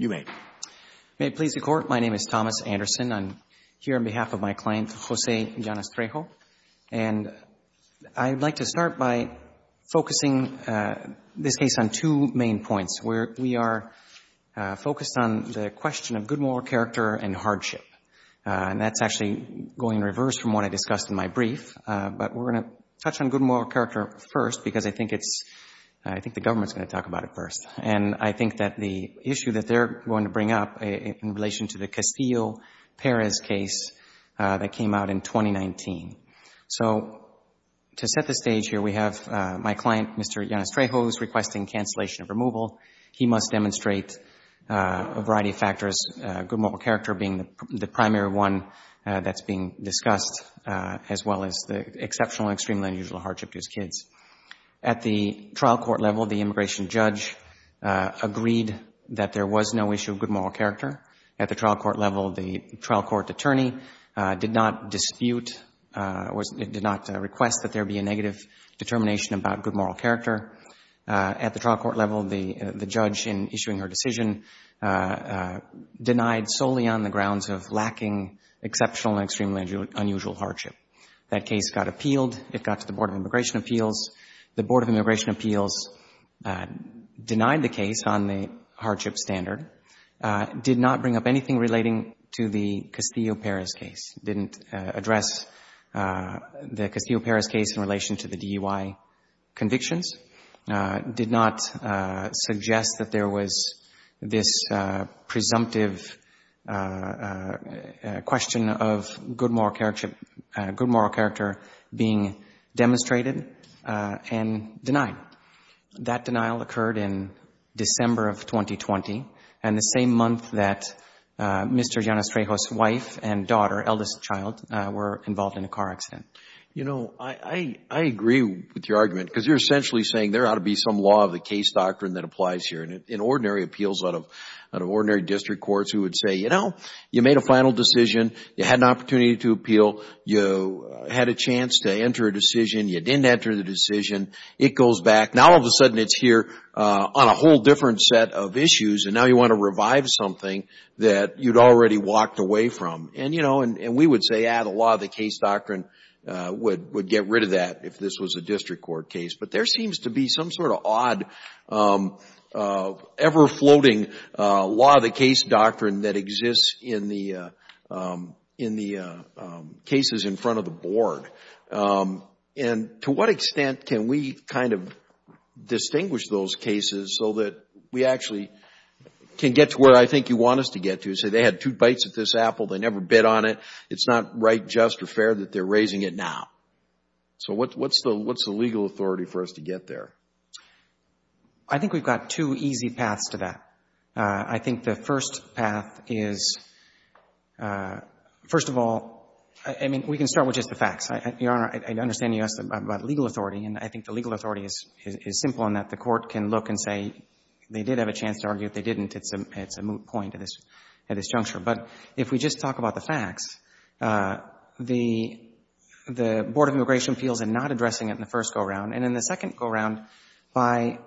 May it please the Court, my name is Thomas Anderson. I'm here on behalf of my client, Jose Llanas-Trejo, and I'd like to start by focusing this case on two main points. We are focused on the question of good moral character and hardship, and that's actually going in reverse from what I discussed in my brief, but we're going to touch on good moral character first because I think it's—I think the government's going to talk about it first. And I think that the issue that they're going to bring up in relation to the Castillo-Perez case that came out in 2019. So to set the stage here, we have my client, Mr. Llanas-Trejo, who's requesting cancellation of removal. He must demonstrate a variety of factors, good moral character being the primary one that's being discussed, as well as the exceptional and extremely unusual hardship to his kids. At the trial court level, the immigration judge agreed that there was no issue of good moral character. At the trial court level, the trial court attorney did not dispute—did not request that there be a negative determination about good moral character. At the trial court level, the judge, in issuing her decision, denied solely on the grounds of lacking exceptional and extremely unusual hardship. That case got appealed. It got to the Board of Immigration Appeals. The Board of Immigration Appeals denied the case on the hardship standard, did not bring up anything relating to the Castillo-Perez case, didn't address the Castillo-Perez case in relation to the DUI convictions, did not suggest that there was this presumptive question of good moral character being demonstrated, and denied. That denial occurred in December of 2020, and the same month that Mr. Llanas-Trejo's wife and daughter, eldest child, were involved in a car accident. You know, I agree with your argument because you're essentially saying there ought to be some law of the case doctrine that applies here. In ordinary appeals out of ordinary district courts, we would say, you know, you made a final decision. You had an opportunity to appeal. You had a chance to enter a decision. You didn't enter the decision. It goes back. Now all of a sudden, it's here on a whole different set of issues, and now you want to revive something that you'd already walked away from. We would say, yeah, the law of the case doctrine would get rid of that if this was a district court case, but there seems to be some sort of odd, ever-floating law of the case doctrine that exists in the cases in front of the board, and to what extent can we kind of distinguish those cases so that we actually can get to where I think you want us to get to, say they had two bites at this apple. They never bid on it. It's not right, just, or fair that they're raising it now. So what's the legal authority for us to get there? I think we've got two easy paths to that. I think the first path is, first of all, I mean, we can start with just the facts. Your Honor, I understand you asked about legal authority, and I think the legal authority is simple in that the court can look and say a chance to argue if they didn't. It's a moot point at this juncture, but if we just talk about the facts, the Board of Immigration feels in not addressing it in the first go-around and in the second go-around by,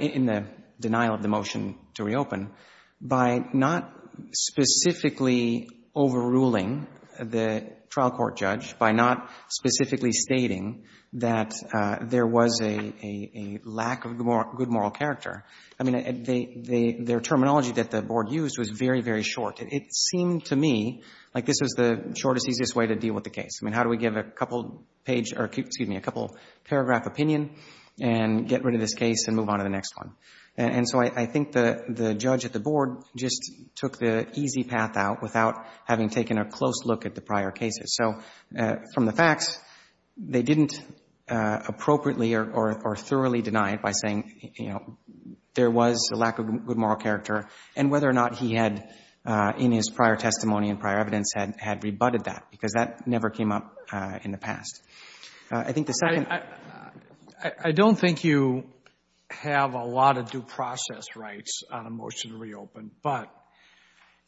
in the denial of the motion to reopen, by not specifically overruling the trial court judge, by not specifically stating that there was a lack of good moral character, I mean, their terminology that the board used was very, very short. It seemed to me like this was the shortest, easiest way to deal with the case. I mean, how do we give a couple page, or excuse me, a couple paragraph opinion and get rid of this case and move on to the next one? And so I think the judge at the board just took the easy path out without having taken a close look at the prior cases. So from the facts, they didn't appropriately or thoroughly deny it by saying, you know, there was a lack of good moral character, and whether or not he had in his prior testimony and prior evidence had rebutted that, because that never came up in the past. I think the second— I don't think you have a lot of due process rights on a motion to reopen, but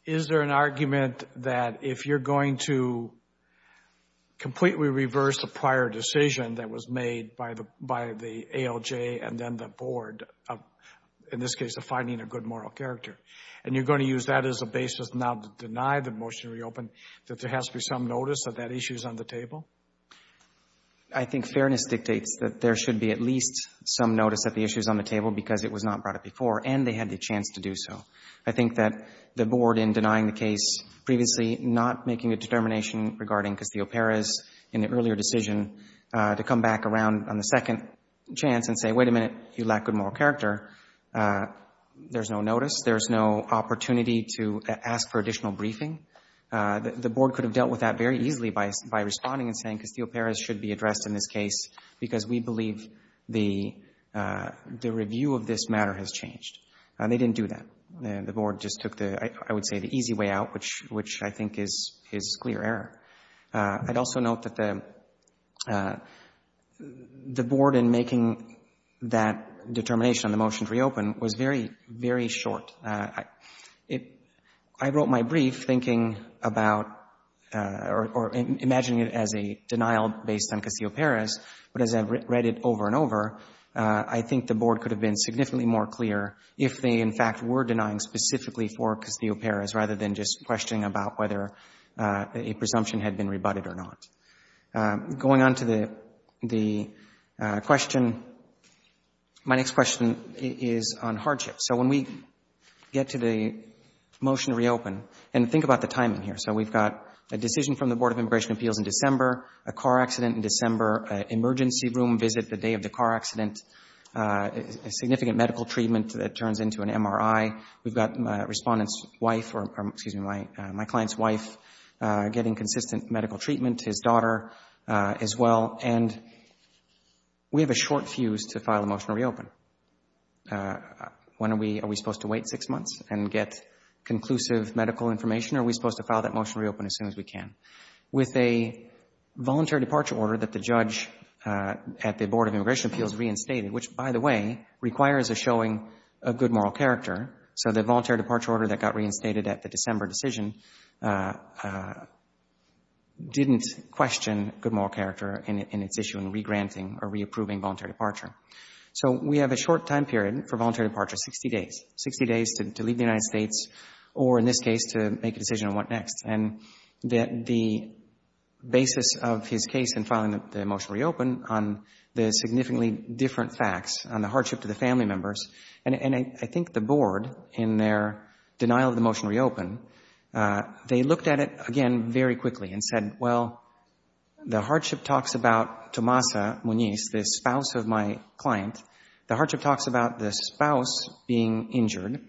is there an argument that if you're going to completely reverse the prior decision that was made by the ALJ and then the board, in this case, of finding a good moral character, and you're going to use that as a basis now to deny the motion to reopen, that there has to be some notice that that issue is on the table? I think fairness dictates that there should be at least some notice that the issue is on the table because it was not brought up before, and they had the chance to do so. I think that the board, in denying the case previously, not making a determination regarding Castillo-Perez in the earlier decision, to come back around on the second chance and say, wait a minute, you lack good moral character, there's no notice. There's no opportunity to ask for additional briefing. The board could have dealt with that very easily by responding and saying Castillo-Perez should be addressed in this case because we believe the review of this matter has changed. They didn't do that. The board just took, I would say, the easy way out, which I think is clear error. I'd also note that the board, in making that determination on the motion to reopen, was very, very short. I wrote my brief thinking about or imagining it as a denial based on Castillo-Perez, but as I read it over and over, I think the board could have been significantly more clear if they, in fact, were denying specifically for Castillo-Perez, rather than just questioning about whether a presumption had been rebutted or not. Going on to the question, my next question is on hardship. So when we get to the motion to reopen, and think about the timing here. So we've got a decision from the Board of Immigration Appeals in December, a car accident in December, an emergency room visit the day of the car accident, a significant medical treatment that turns into an MRI. We've got my client's wife getting consistent medical treatment, his daughter as well, and we have a short fuse to file a motion to reopen. Are we supposed to wait six months and get conclusive medical information, or are we supposed to file that motion to reopen as soon as we can? With a voluntary departure order that the judge at the Board of Immigration Appeals reinstated, which, by the way, requires a showing of good moral character. So the voluntary departure order that got reinstated at the December decision didn't question good moral character in its issue in re-granting or re-approving voluntary departure. So we have a short time period for voluntary departure, 60 days, 60 days to leave the United States. Next. And the basis of his case in filing the motion to reopen on the significantly different facts, on the hardship to the family members, and I think the Board, in their denial of the motion to reopen, they looked at it, again, very quickly and said, well, the hardship talks about Tomasa Muñiz, the spouse of my client. The hardship talks about the spouse being injured,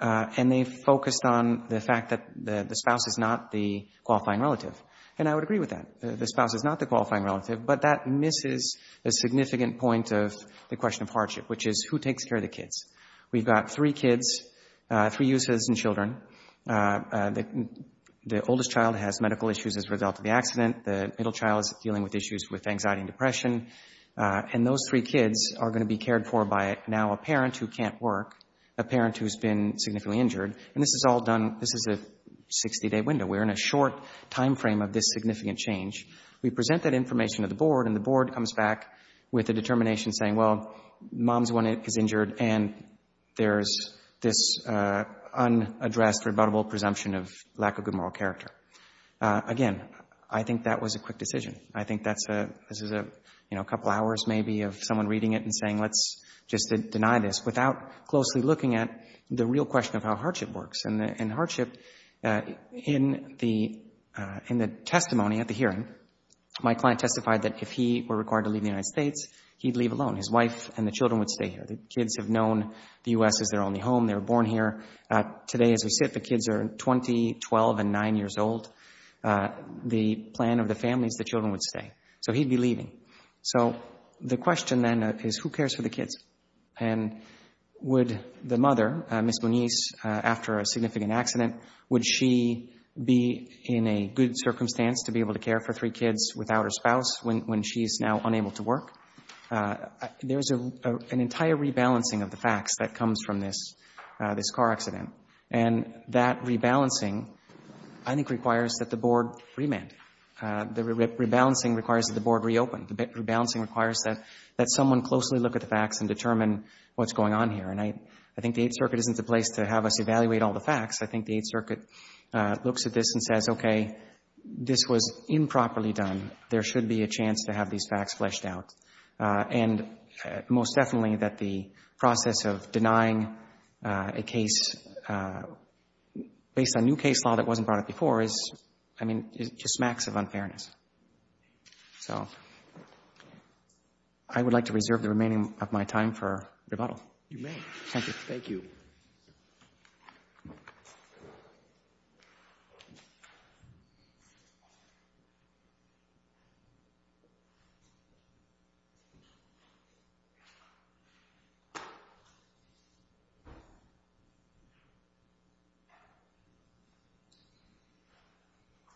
and they focused on the fact that the spouse is not the qualifying relative. And I would agree with that. The spouse is not the qualifying relative, but that misses a significant point of the question of hardship, which is who takes care of the kids? We've got three kids, three uses and children. The oldest child has medical issues as a result of the accident. The middle child is dealing with issues with anxiety and depression. And those three kids are going to be cared for by now a parent who can't work, a parent who's been significantly injured. And this is all done, this is a 60-day window. We're in a short time frame of this significant change. We present that information to the Board, and the Board comes back with a determination saying, well, mom's one is injured, and there's this unaddressed, rebuttable presumption of lack of good moral character. Again, I think that was a quick decision. I think this is a couple hours maybe of someone reading it and saying, let's just deny this without closely looking at the real question of how hardship works. And hardship, in the testimony at the hearing, my client testified that if he were required to leave the United States, he'd leave alone. His wife and the children would stay here. The kids have known the U.S. is their only home. They were born here. Today, as we sit, the kids are 20, 12, and 9 years old. The plan of the families, the children would stay. So he'd be leaving. So the question then is, who cares for the kids? And would the mother, Ms. Moniz, after a significant accident, would she be in a good circumstance to be able to care for three kids without her spouse when she's now unable to work? There's an entire rebalancing of the facts that comes from this car accident. And that rebalancing, I think, requires that the Board remand. The rebalancing requires that the Board reopen. The rebalancing requires that someone closely look at the facts and determine what's going on here. And I think the Eighth Circuit isn't the place to have us evaluate all the facts. I think the Eighth Circuit looks at this and says, okay, this was improperly done. There should be a chance to have these facts fleshed out. And most definitely that the process of denying a case based on new case law that wasn't brought up before is, I mean, just smacks of unfairness. So I would like to reserve the remaining of my time for rebuttal. You may. Thank you.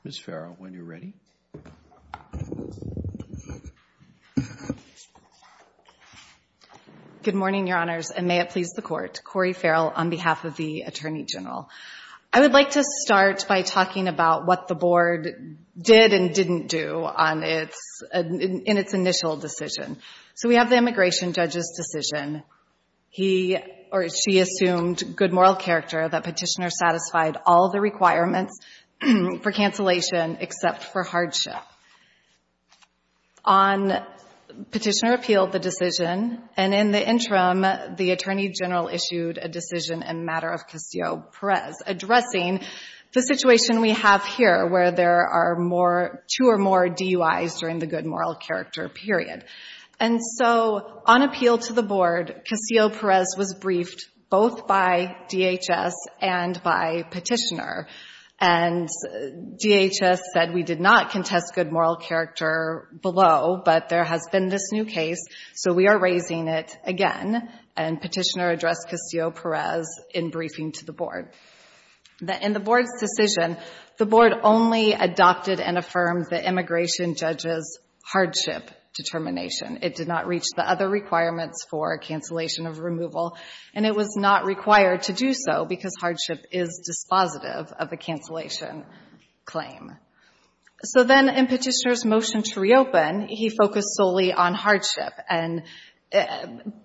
Ms. Farrow, when you're ready. Good morning, Your Honors, and may it please the Court. Cori Farrell on behalf of the Attorney General. I would like to start by talking about what the Board did and didn't do in its initial decision. So we have the immigration judge's decision. He or she assumed good moral character that Petitioner satisfied all the requirements for cancellation except for hardship. On Petitioner appealed the decision, and in the interim, the Attorney General issued a decision in matter of Castillo-Perez addressing the situation we have here where there are more, two or more DUIs during the good moral character period. And so on appeal to the by Petitioner. And DHS said we did not contest good moral character below, but there has been this new case, so we are raising it again. And Petitioner addressed Castillo-Perez in briefing to the Board. In the Board's decision, the Board only adopted and affirmed the immigration judge's hardship determination. It did not reach the other requirements for cancellation of removal, and it was not required to do so because hardship is dispositive of a cancellation claim. So then in Petitioner's motion to reopen, he focused solely on hardship.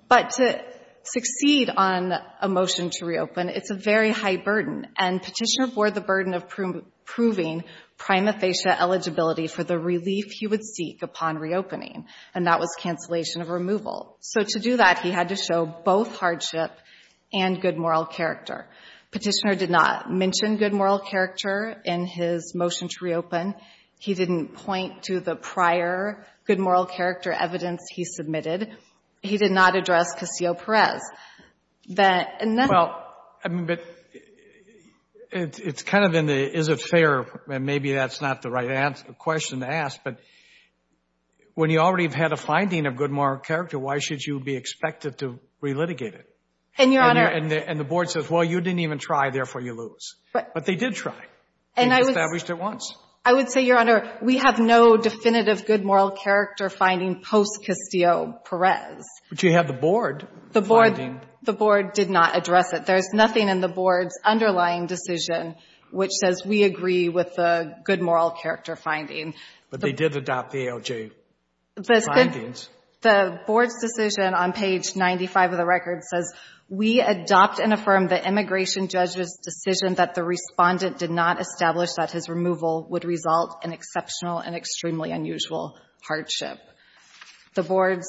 But to succeed on a motion to reopen, it's a very high burden. And Petitioner bore the burden of proving prima facie eligibility for the relief he would seek upon reopening, and that was cancellation of removal. So to do that, he had to show both hardship and good moral character. Petitioner did not mention good moral character in his motion to reopen. He didn't point to the prior good moral character evidence he submitted. He did not address Castillo-Perez. That and then — Well, I mean, but it's kind of in the is it fair, and maybe that's not the right question to ask, but when you already have had a finding of good moral character, why should you be expected to relitigate it? And, Your Honor — And the Board says, well, you didn't even try, therefore you lose. But they did try. And they established it once. I would say, Your Honor, we have no definitive good moral character finding post-Castillo-Perez. But you have the Board finding. The Board did not address it. There's nothing in the Board's underlying decision which says we agree with the good moral character finding. But they did adopt the ALJ findings. The Board's decision on page 95 of the record says, We adopt and affirm the immigration judge's decision that the Respondent did not establish that his removal would result in exceptional and extremely unusual hardship. The Board's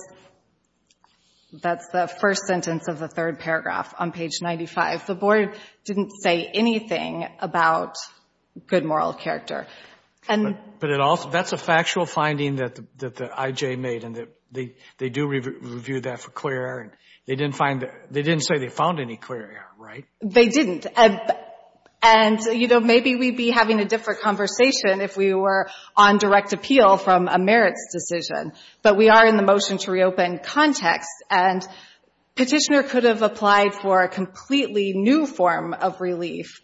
— that's the first sentence of the third paragraph on page 95. The Board didn't say anything about good moral character. But it also — that's a factual finding that the IJ made, and they do review that for clear air. They didn't find — they didn't say they found any clear air, right? They didn't. And, you know, maybe we'd be having a different conversation if we were on direct appeal from a merits decision. But we are in the motion to reopen context. And Petitioner could have applied for a completely new form of relief,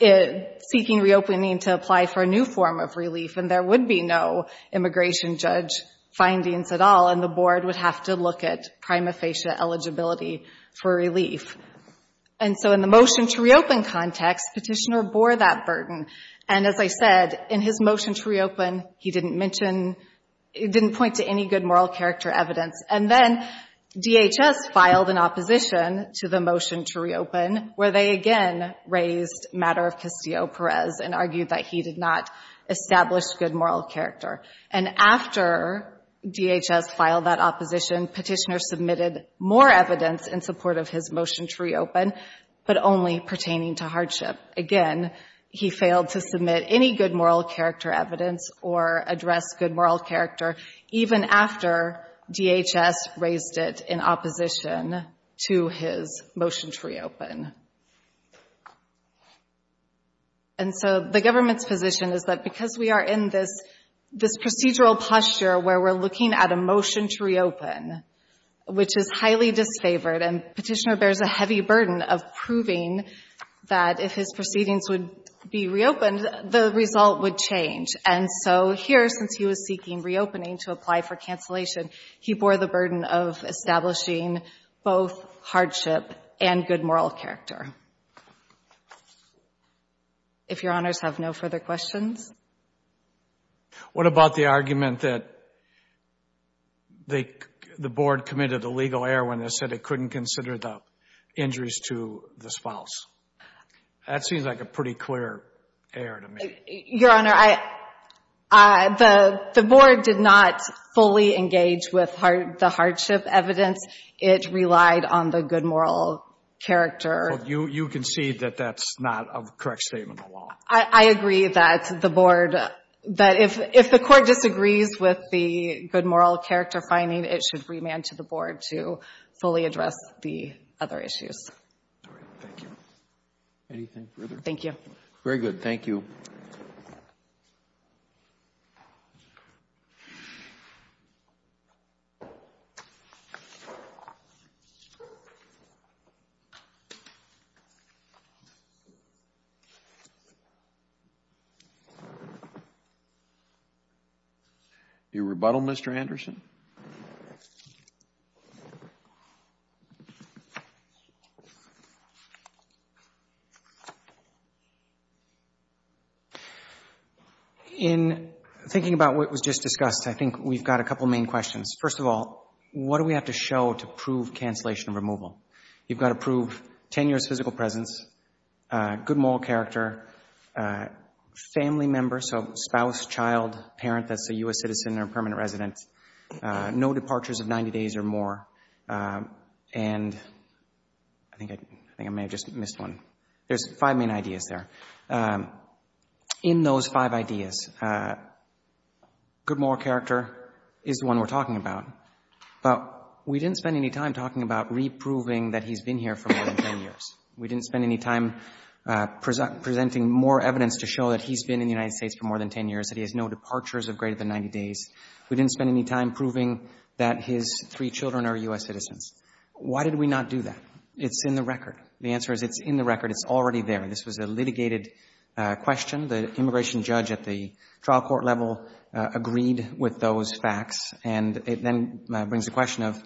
seeking reopening to apply for a new form of relief, and there would be no immigration judge findings at all, and the Board would have to look at prima facie eligibility for relief. And so in the motion to reopen context, Petitioner bore that burden. And as I said, in his motion to reopen, he didn't mention — he didn't point to any good moral character evidence. And then DHS filed an opposition to the motion to reopen, where they again raised matter of Castillo-Perez and argued that he did not establish good moral character. And after DHS filed that opposition, Petitioner submitted more evidence in support of his motion to reopen, but only pertaining to hardship. Again, he failed to submit any good moral character evidence or address good moral character, even after DHS raised it in opposition to his motion to reopen. And so the government's position is that because we are in this procedural posture where we're looking at a motion to reopen, which is highly disfavored, and Petitioner bears a heavy burden of proving that if his proceedings would be reopened, the result would change. And so here, since he was seeking reopening to apply for cancellation, he bore the burden of establishing both hardship and good moral character. If Your Honors have no further questions. What about the argument that the board committed illegal heroin and said it couldn't consider the injuries to the spouse? That seems like a pretty clear error to me. Your Honor, the board did not fully engage with the hardship evidence. It relied on the good moral character. You concede that that's not a correct statement of the law. I agree that the board, that if the court disagrees with the good moral character finding, it should remand to the board to fully address the other issues. All right. Thank you. Anything further? Thank you. Very good. Thank you. The rebuttal, Mr. Anderson. In thinking about what was just discussed, I think we've got a couple main questions. First of all, what do we have to show to prove cancellation removal? You've got to prove tenuous physical presence, good moral character, family members, so spouse, child, parent that's a U.S. citizen or permanent resident, no departures of 90 days or more, and I think I may have just missed one. There's five main ideas there. In those five ideas, good moral character is the one we're talking about, but we didn't spend any time talking about reproving that he's been here for more than ten years. We didn't spend any time presenting more evidence to show that he's been in the United States for more than ten years, that he has no departures of greater than 90 days. We didn't spend any time proving that his three children are U.S. citizens. Why did we not do that? It's in the record. The answer is it's in the record. It's already there. This was a litigated question. The immigration judge at the trial court level agreed with those facts, and it then brings the question of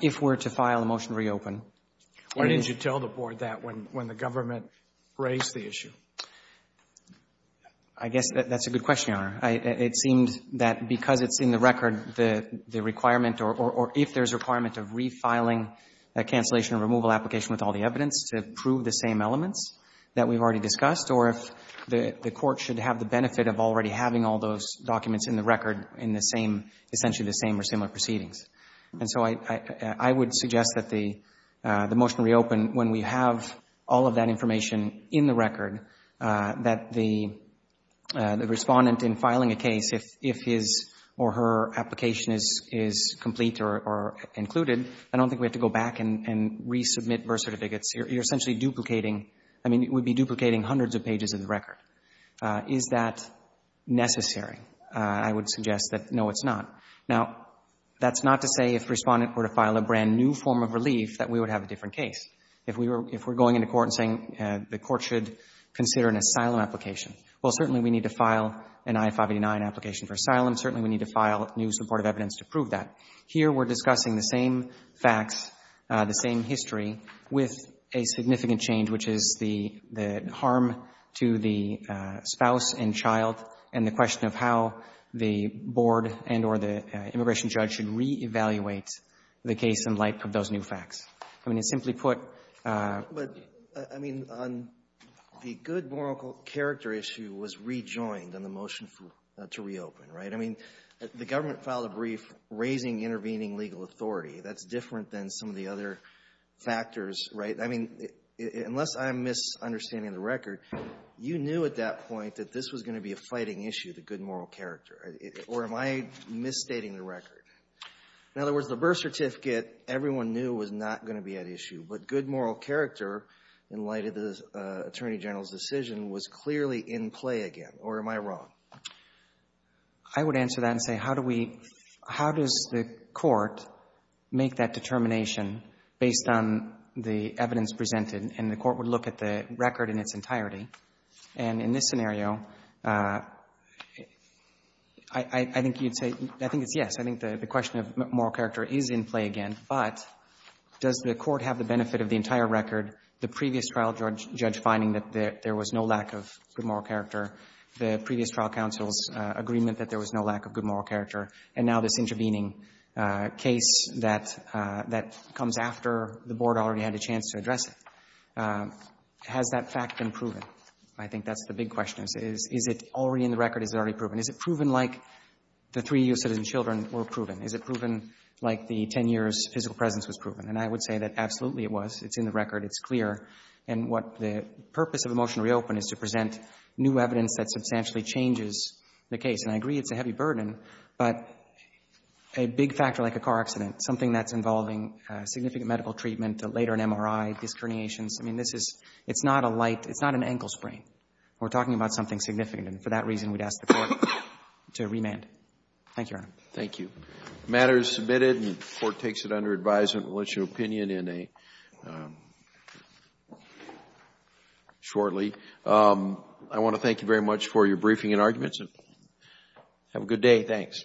if we're to file a motion to reopen. Why didn't you tell the board that when the government raised the issue? I guess that's a good question, Your Honor. It seemed that because it's in the record, the requirement or if there's a requirement of refiling a cancellation or removal application with all the evidence to prove the same elements that we've already discussed, or if the court should have the benefit of already having all those documents in the record in the same, essentially the same or similar proceedings. And so I would suggest that the motion reopen when we have all of that information in the I don't think we have to go back and resubmit bursa to bigots. You're essentially duplicating. I mean, it would be duplicating hundreds of pages of the record. Is that necessary? I would suggest that, no, it's not. Now, that's not to say if Respondent were to file a brand-new form of relief that we would have a different case. If we're going into court and saying the court should consider an asylum application, well, certainly we need to file an I-589 application for asylum. Certainly we need to file new supportive evidence to prove that. Here we're discussing the same facts, the same history, with a significant change, which is the harm to the spouse and child, and the question of how the board and or the immigration judge should reevaluate the case in light of those new facts. I mean, to simply put But, I mean, on the good, moral character issue was rejoined on the motion to reopen, right? I mean, the government filed a brief raising intervening legal authority. That's different than some of the other factors, right? I mean, unless I'm misunderstanding the record, you knew at that point that this was going to be a fighting issue, the good, moral character, or am I misstating the record? In other words, the birth certificate everyone knew was not going to be at issue, but good, moral character in light of the Attorney General's decision was clearly in play again, or am I wrong? I would answer that and say, how do we — how does the Court make that determination based on the evidence presented, and the Court would look at the record in its entirety? And in this scenario, I think you'd say — I think it's yes. I think the question of moral character is in play again, but does the Court have the benefit of the entire record, the previous trial judge finding that there was no good moral character, the previous trial counsel's agreement that there was no lack of good moral character, and now this intervening case that comes after the Board already had a chance to address it? Has that fact been proven? I think that's the big question is, is it already in the record, is it already proven? Is it proven like the three U.S. citizen children were proven? Is it proven like the 10 years physical presence was proven? And I would say that absolutely it was. It's in the record. It's clear. And what the purpose of the motion to reopen is to present new evidence that substantially changes the case. And I agree it's a heavy burden, but a big factor like a car accident, something that's involving significant medical treatment, later an MRI, disc herniations, I mean, this is — it's not a light — it's not an ankle sprain. We're talking about something significant, and for that reason, we'd ask the Court to remand. Thank you, Your Honor. Thank you. The matter is submitted, and the Court takes it under advisement. We'll get your opinion in a — shortly. I want to thank you very much for your briefing and arguments, and have a good day. Thanks.